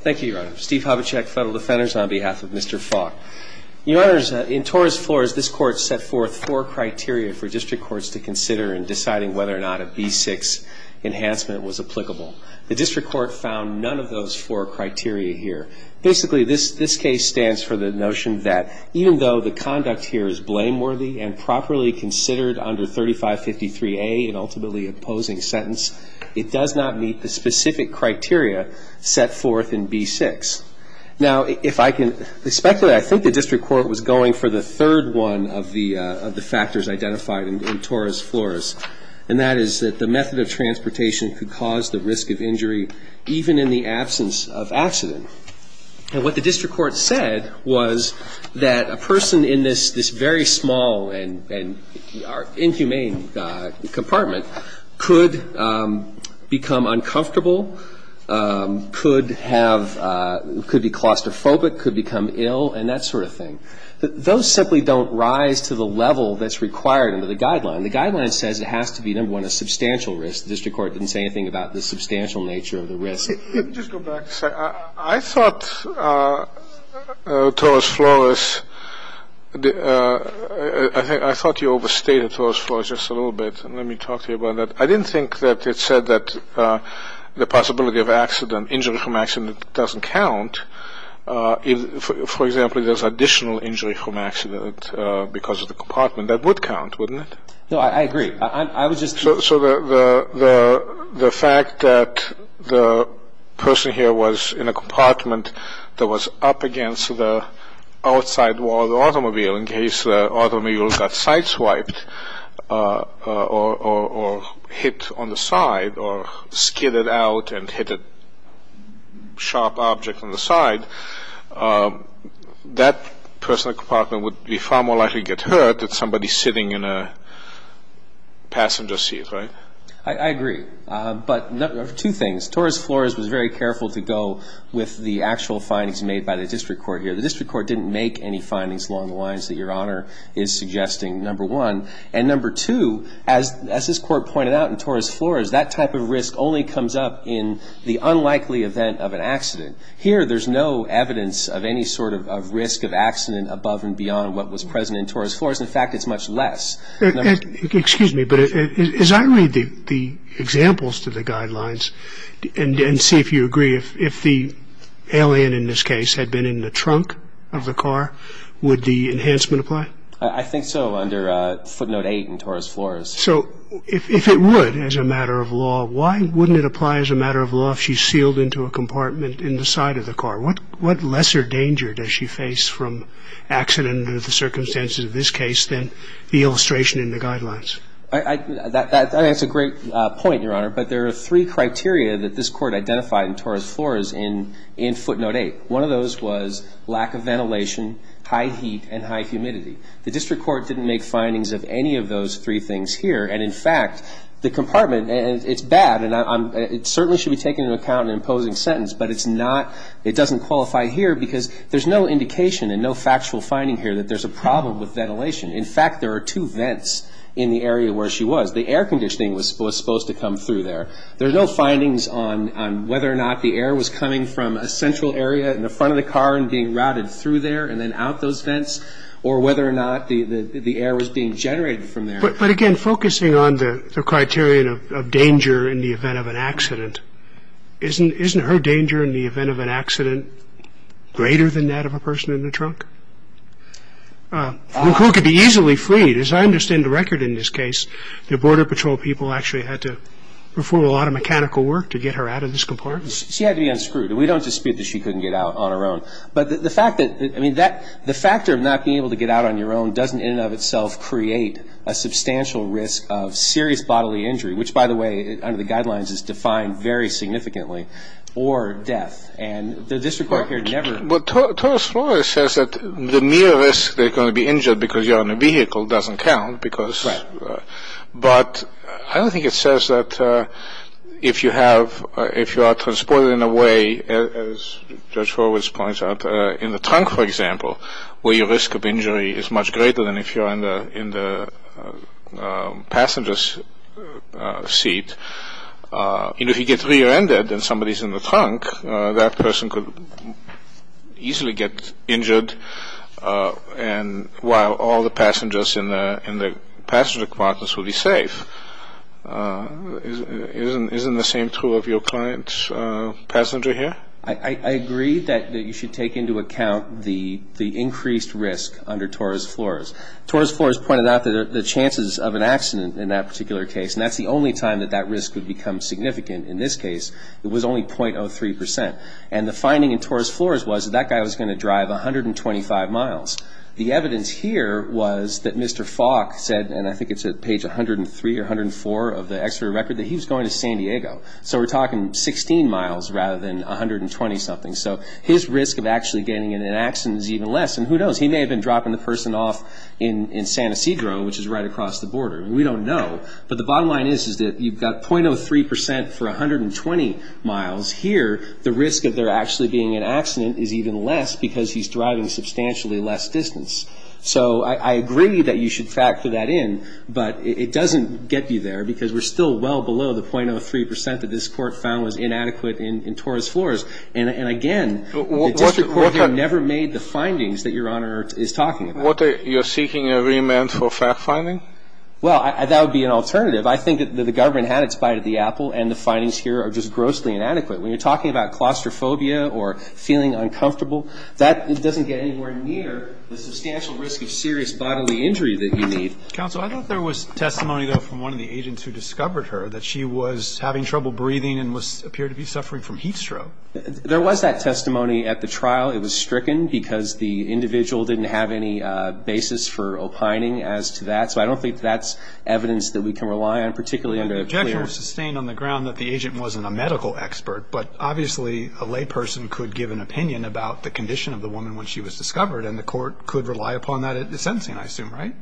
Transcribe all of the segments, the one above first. Thank you, Your Honor. Steve Hobachek, Federal Defenders, on behalf of Mr. Faulk. Your Honors, in Tora's floors, this Court set forth four criteria for District Courts to consider in deciding whether or not a B6 enhancement was applicable. The District Court found none of those four criteria here. Basically, this case stands for the notion that even though the conduct here is blameworthy and properly considered under 3553A, an ultimately opposing sentence, it does not meet the specific criteria set forth in B6. Now, if I can speculate, I think the District Court was going for the third one of the factors identified in Tora's floors, and that is that the method of transportation could cause the risk of injury even in the absence of accident. And what the District Court said was that a person in this very small and inhumane compartment could become uncomfortable, could have – could be claustrophobic, could become ill, and that sort of thing. Those simply don't rise to the level that's required under the Guideline. The Guideline says it has to be, number one, a substantial risk. The District Court didn't say anything about the substantial nature of the risk. Let me just go back a second. I thought Tora's floors – I thought you overstated Tora's floors just a little bit. Let me talk to you about that. I didn't think that it said that the possibility of accident, injury from accident, doesn't count. For example, if there's additional injury from accident because of the compartment, that would count, wouldn't it? No, I agree. I was just – So the fact that the person here was in a compartment that was up against the outside wall of the automobile in case the automobile got sideswiped or hit on the side or skidded out and hit a sharp object on the side, that person in the compartment would be far more likely to get hurt than somebody sitting in a passenger seat, right? I agree. But two things. Tora's floors was very careful to go with the actual findings made by the District Court here. The District Court didn't make any findings along the lines that Your Honor is suggesting, number one. And number two, as this Court pointed out in Tora's floors, that type of risk only comes up in the unlikely event of an accident. Here, there's no evidence of any sort of risk of accident above and beyond what was present in Tora's floors. In fact, it's much less. Excuse me, but as I read the examples to the guidelines and see if you agree, if the alien in this case had been in the trunk of the car, would the enhancement apply? I think so, under footnote eight in Tora's floors. So if it would, as a matter of law, why wouldn't it apply as a matter of law if she's sealed into a compartment in the side of the car? What lesser danger does she face from accident under the circumstances of this case than the illustration in the guidelines? That's a great point, Your Honor, but there are three criteria that this Court identified in Tora's floors in footnote eight. One of those was lack of ventilation, high heat, and high humidity. The District Court didn't make findings of any of those three things here. And, in fact, the compartment, it's bad, and it certainly should be taken into account in an imposing sentence, but it doesn't qualify here because there's no indication and no factual finding here that there's a problem with ventilation. In fact, there are two vents in the area where she was. The air conditioning was supposed to come through there. There's no findings on whether or not the air was coming from a central area in the front of the car and being routed through there and then out those vents or whether or not the air was being generated from there. But, again, focusing on the criterion of danger in the event of an accident, isn't her danger in the event of an accident greater than that of a person in the truck? McCall could be easily freed. As I understand the record in this case, the Border Patrol people actually had to perform a lot of mechanical work to get her out of this compartment. She had to be unscrewed. We don't dispute that she couldn't get out on her own. But the fact that, I mean, the factor of not being able to get out on your own doesn't, in and of itself, create a substantial risk of serious bodily injury, which, by the way, under the guidelines, is defined very significantly, or death. And the district court here never… Well, Torres Flores says that the mere risk they're going to be injured because you're on a vehicle doesn't count because… Right. But I don't think it says that if you are transported in a way, as Judge Horowitz points out, in the trunk, for example, where your risk of injury is much greater than if you're in the passenger's seat, if you get rear-ended and somebody's in the trunk, that person could easily get injured while all the passengers in the passenger compartments will be safe. Isn't the same true of your client's passenger here? I agree that you should take into account the increased risk under Torres Flores. Torres Flores pointed out the chances of an accident in that particular case, and that's the only time that that risk would become significant. In this case, it was only 0.03 percent. And the finding in Torres Flores was that that guy was going to drive 125 miles. The evidence here was that Mr. Falk said, and I think it's at page 103 or 104 of the X-ray record, that he was going to San Diego. So we're talking 16 miles rather than 120-something. So his risk of actually getting in an accident is even less. And who knows? He may have been dropping the person off in San Ysidro, which is right across the border. We don't know. But the bottom line is that you've got 0.03 percent for 120 miles here. The risk of there actually being an accident is even less because he's driving substantially less distance. So I agree that you should factor that in, but it doesn't get you there because we're still well below the 0.03 percent that this court found was inadequate in Torres Flores. And, again, the district court here never made the findings that Your Honor is talking about. You're seeking an agreement for fact-finding? Well, that would be an alternative. I think that the government had its bite at the apple, and the findings here are just grossly inadequate. When you're talking about claustrophobia or feeling uncomfortable, that doesn't get anywhere near the substantial risk of serious bodily injury that you need. Counsel, I thought there was testimony, though, from one of the agents who discovered her, that she was having trouble breathing and appeared to be suffering from heat stroke. There was that testimony at the trial. It was stricken because the individual didn't have any basis for opining as to that. So I don't think that's evidence that we can rely on, particularly under a clear ---- The objection was sustained on the ground that the agent wasn't a medical expert, but obviously a layperson could give an opinion about the condition of the woman when she was discovered, and the court could rely upon that at the sentencing, I assume, right?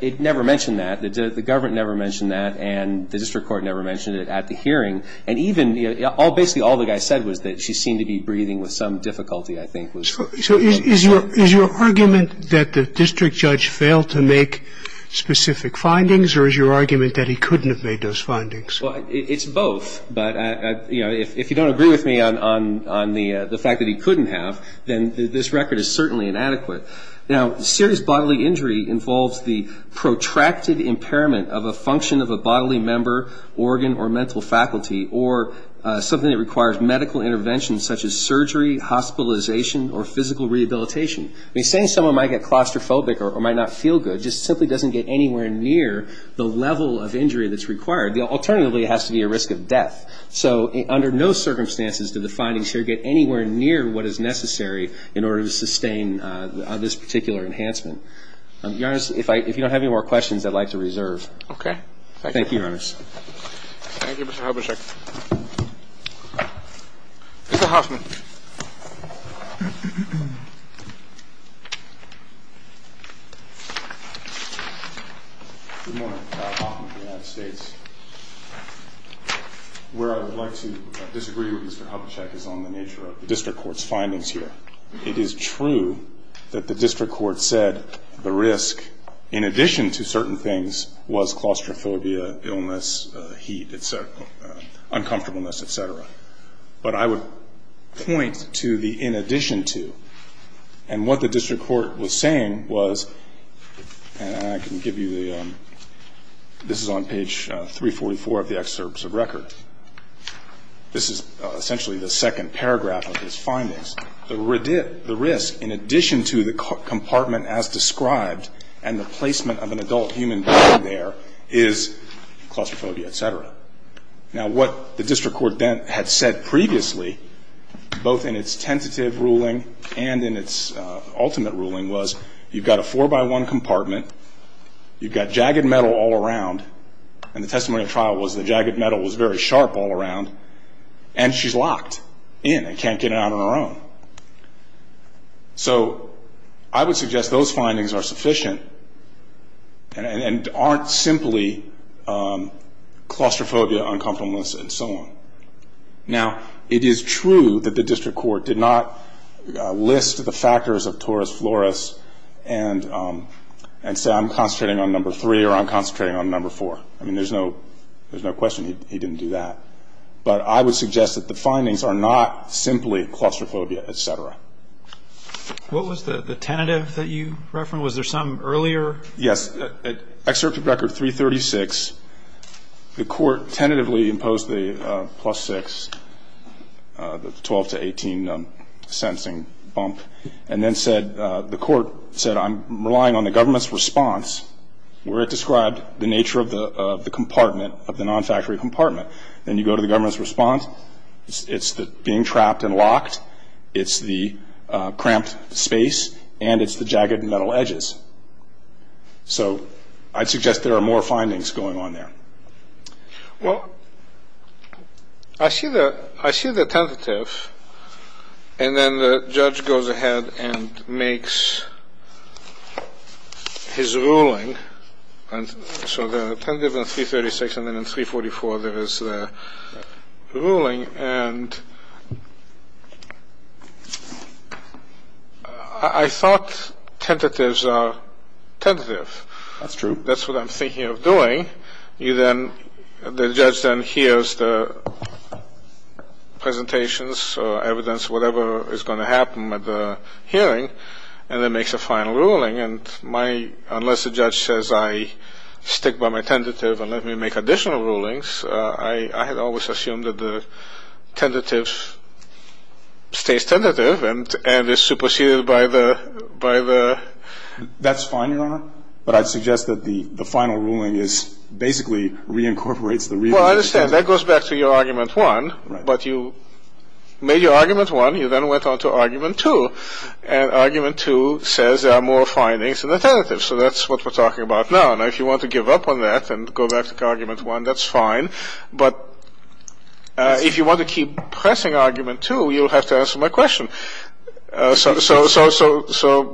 It never mentioned that. The government never mentioned that, and the district court never mentioned it at the hearing. And even, you know, basically all the guy said was that she seemed to be breathing with some difficulty, I think. So is your argument that the district judge failed to make specific findings, or is your argument that he couldn't have made those findings? Well, it's both. But, you know, if you don't agree with me on the fact that he couldn't have, then this record is certainly inadequate. Now, serious bodily injury involves the protracted impairment of a function of a bodily member, organ or mental faculty, or something that requires medical intervention such as surgery, hospitalization, or physical rehabilitation. I mean, saying someone might get claustrophobic or might not feel good just simply doesn't get anywhere near the level of injury that's required. Alternatively, it has to be a risk of death. So under no circumstances did the findings here get anywhere near what is necessary in order to sustain this particular enhancement. Your Honor, if you don't have any more questions, I'd like to reserve. Okay. Thank you, Your Honor. Thank you, Mr. Hobesek. Mr. Hoffman. Good morning, Mr. Hoffman of the United States. Where I would like to disagree with Mr. Hobesek is on the nature of the district court's findings here. It is true that the district court said the risk, in addition to certain things, was claustrophobia, illness, heat, et cetera, uncomfortableness, et cetera. But I would point to the in addition to. And what the district court was saying was, and I can give you the ‑‑ this is on page 344 of the excerpts of record. This is essentially the second paragraph of his findings. The risk in addition to the compartment as described and the placement of an adult human being there is claustrophobia, et cetera. Now, what the district court then had said previously, both in its tentative ruling and in its ultimate ruling, was you've got a four by one compartment. You've got jagged metal all around. And the testimony of trial was the jagged metal was very sharp all around. And she's locked in and can't get out on her own. So I would suggest those findings are sufficient and aren't simply claustrophobia, uncomfortableness, and so on. Now, it is true that the district court did not list the factors of torus florus and say I'm concentrating on number three or I'm concentrating on number four. I mean, there's no question he didn't do that. But I would suggest that the findings are not simply claustrophobia, et cetera. What was the tentative that you referenced? Was there some earlier? Yes. At excerpt of record 336, the court tentatively imposed the plus six, the 12 to 18 sentencing bump, and then said the court said I'm relying on the government's response where it described the nature of the compartment, of the non-factory compartment. Then you go to the government's response. It's the being trapped and locked. It's the cramped space. And it's the jagged metal edges. So I'd suggest there are more findings going on there. Well, I see the tentative, and then the judge goes ahead and makes his ruling. So the tentative in 336, and then in 344 there is the ruling. And I thought tentatives are tentative. That's true. That's what I'm thinking of doing. You then the judge then hears the presentations or evidence, whatever is going to happen at the hearing, and then makes a final ruling. And my unless the judge says I stick by my tentative and let me make additional rulings, I had always assumed that the tentative stays tentative and is superseded by the. That's fine, Your Honor. But I'd suggest that the final ruling is basically reincorporates the. Well, I understand. That goes back to your argument one. But you made your argument one. You then went on to argument two. And argument two says there are more findings in the tentative. So that's what we're talking about now. Now, if you want to give up on that and go back to argument one, that's fine. But if you want to keep pressing argument two, you'll have to answer my question. So.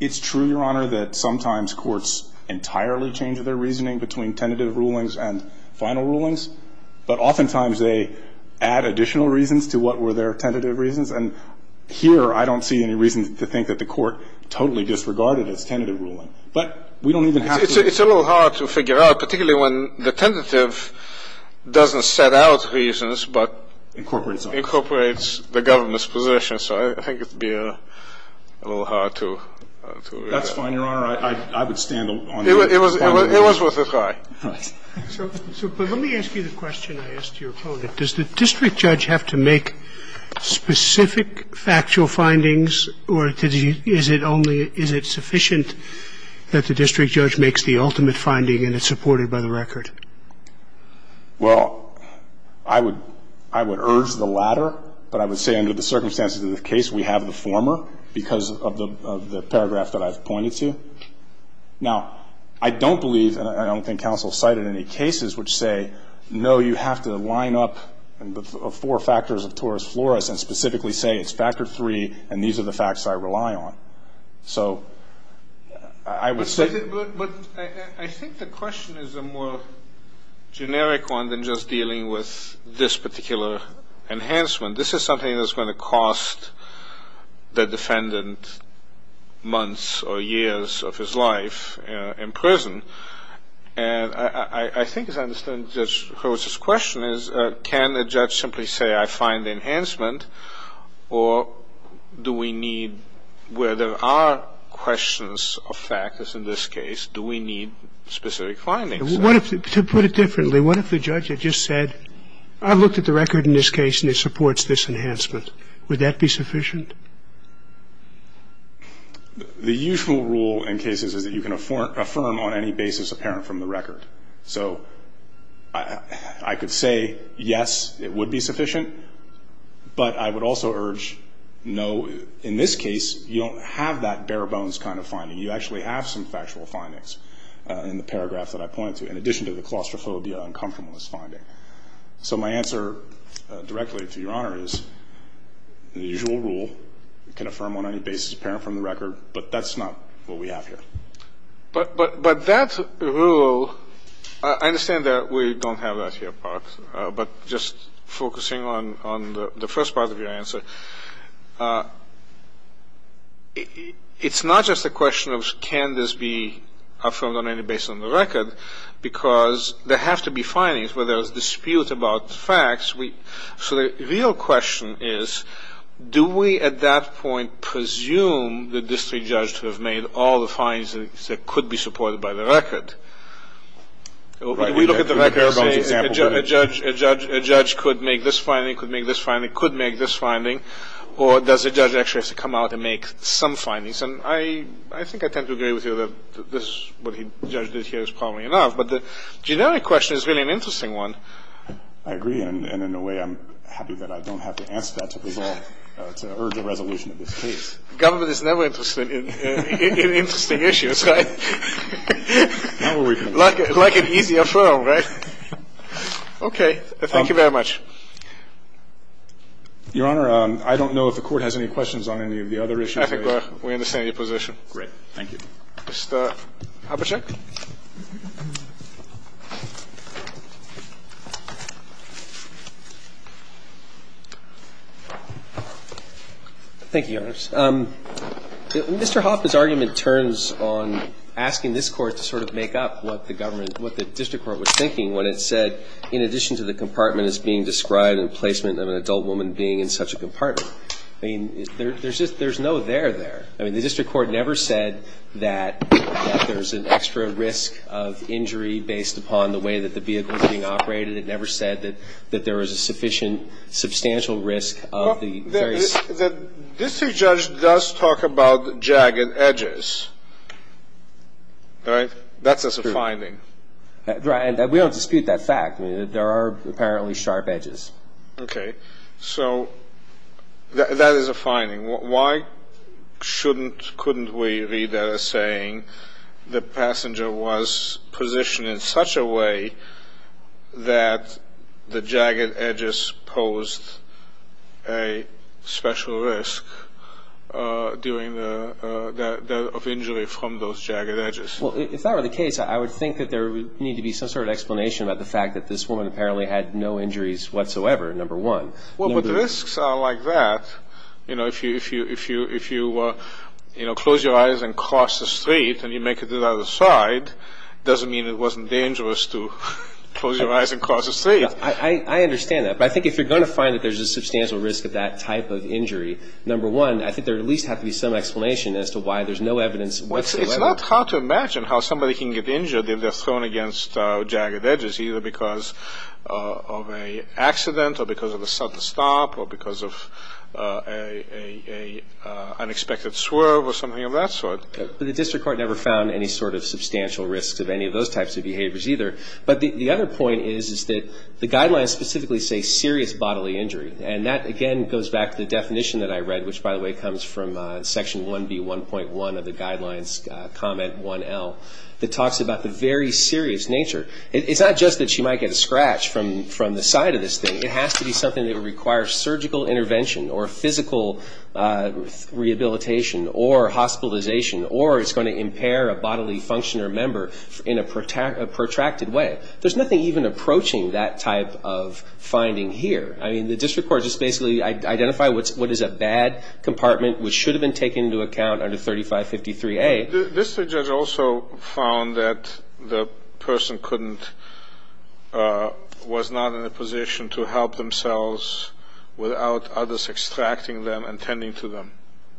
It's true, Your Honor, that sometimes courts entirely change their reasoning between tentative rulings and final rulings. But oftentimes they add additional reasons to what were their tentative reasons. And here, I don't see any reason to think that the court totally disregarded its tentative ruling. But we don't even have to. It's a little hard to figure out, particularly when the tentative doesn't set out reasons but incorporates the government's position. So I think it would be a little hard to. That's fine, Your Honor. I would stand on that. It was worth a try. All right. So let me ask you the question I asked your opponent. Does the district judge have to make specific factual findings, or is it only – is it sufficient that the district judge makes the ultimate finding and it's supported by the record? Well, I would urge the latter. But I would say under the circumstances of the case, we have the former because of the paragraph that I've pointed to. Now, I don't believe, and I don't think counsel cited any cases which say, no, you have to line up the four factors of torus floris and specifically say it's factor three and these are the facts I rely on. So I would say – But I think the question is a more generic one than just dealing with this particular enhancement. This is something that's going to cost the defendant months or years of his life in prison. And I think, as I understand Judge Horowitz's question, is can a judge simply say, I find the enhancement, or do we need – where there are questions of factors in this case, do we need specific findings? To put it differently, what if the judge had just said, I looked at the record in this case and it supports this enhancement. Would that be sufficient? The usual rule in cases is that you can affirm on any basis apparent from the record. So I could say, yes, it would be sufficient. But I would also urge, no, in this case, you don't have that bare bones kind of finding. You actually have some factual findings in the paragraph that I pointed to, in addition to the claustrophobia and uncomfortableness finding. So my answer directly to Your Honor is the usual rule, you can affirm on any basis apparent from the record, but that's not what we have here. But that rule – I understand that we don't have that here, Park, but just focusing on the first part of your answer, it's not just a question of can this be affirmed on the record. So the real question is, do we at that point presume that this judge could have made all the findings that could be supported by the record? We look at the record and say a judge could make this finding, could make this finding, could make this finding, or does the judge actually have to come out and make some findings? And I think I tend to agree with you that what the judge did here is probably enough. But the generic question is really an interesting one. I agree, and in a way I'm happy that I don't have to answer that to urge a resolution of this case. Government is never interested in interesting issues, right? Like an easier firm, right? Okay. Thank you very much. Your Honor, I don't know if the Court has any questions on any of the other issues. I think we're in the same position. Great. Thank you. Mr. Habashek. Thank you, Your Honors. Mr. Hoppe's argument turns on asking this Court to sort of make up what the government – what the district court was thinking when it said in addition to the compartment as being described in placement of an adult woman being in such a compartment. I mean, there's no there there. I mean, the district court never said that there's an extra risk of injury based upon the way that the vehicle was being operated. It never said that there was a sufficient substantial risk of the various. The district judge does talk about jagged edges, right? That's a finding. Right. And we don't dispute that fact. There are apparently sharp edges. Okay. So that is a finding. Why couldn't we read that as saying the passenger was positioned in such a way that the jagged edges posed a special risk of injury from those jagged edges? Well, if that were the case, I would think that there would need to be some sort of explanation about the fact that this woman apparently had no injuries whatsoever, number one. Well, but risks are like that. You know, if you close your eyes and cross the street and you make it to the other side, it doesn't mean it wasn't dangerous to close your eyes and cross the street. I understand that. But I think if you're going to find that there's a substantial risk of that type of injury, number one, I think there would at least have to be some explanation as to why there's no evidence whatsoever. Well, it's not hard to imagine how somebody can get injured if they're thrown against jagged edges, either because of an accident or because of a sudden stop or because of an unexpected swerve or something of that sort. But the district court never found any sort of substantial risks of any of those types of behaviors either. But the other point is, is that the guidelines specifically say serious bodily injury. And that, again, goes back to the definition that I read, which, by the way, comes from Section 1B1.1 of the Guidelines Comment 1L that talks about the very serious nature. It's not just that she might get a scratch from the side of this thing. It has to be something that requires surgical intervention or physical rehabilitation or hospitalization or is going to impair a bodily function or member in a protracted way. There's nothing even approaching that type of finding here. I mean, the district court just basically identified what is a bad compartment, which should have been taken into account under 3553A. This judge also found that the person was not in a position to help themselves without others extracting them and tending to them.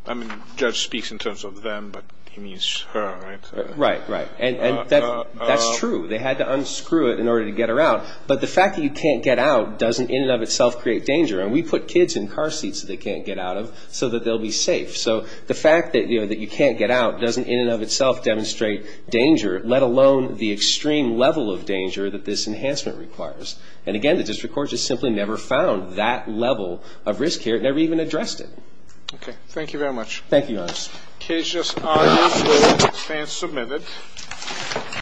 I mean, the judge speaks in terms of them, but he means her, right? Right, right. And that's true. They had to unscrew it in order to get her out. But the fact that you can't get out doesn't in and of itself create danger. And we put kids in car seats that they can't get out of so that they'll be safe. So the fact that, you know, that you can't get out doesn't in and of itself demonstrate danger, let alone the extreme level of danger that this enhancement requires. And, again, the district court just simply never found that level of risk here. It never even addressed it. Okay. Thank you very much. Thank you, Your Honor. The case is argued for and submitted.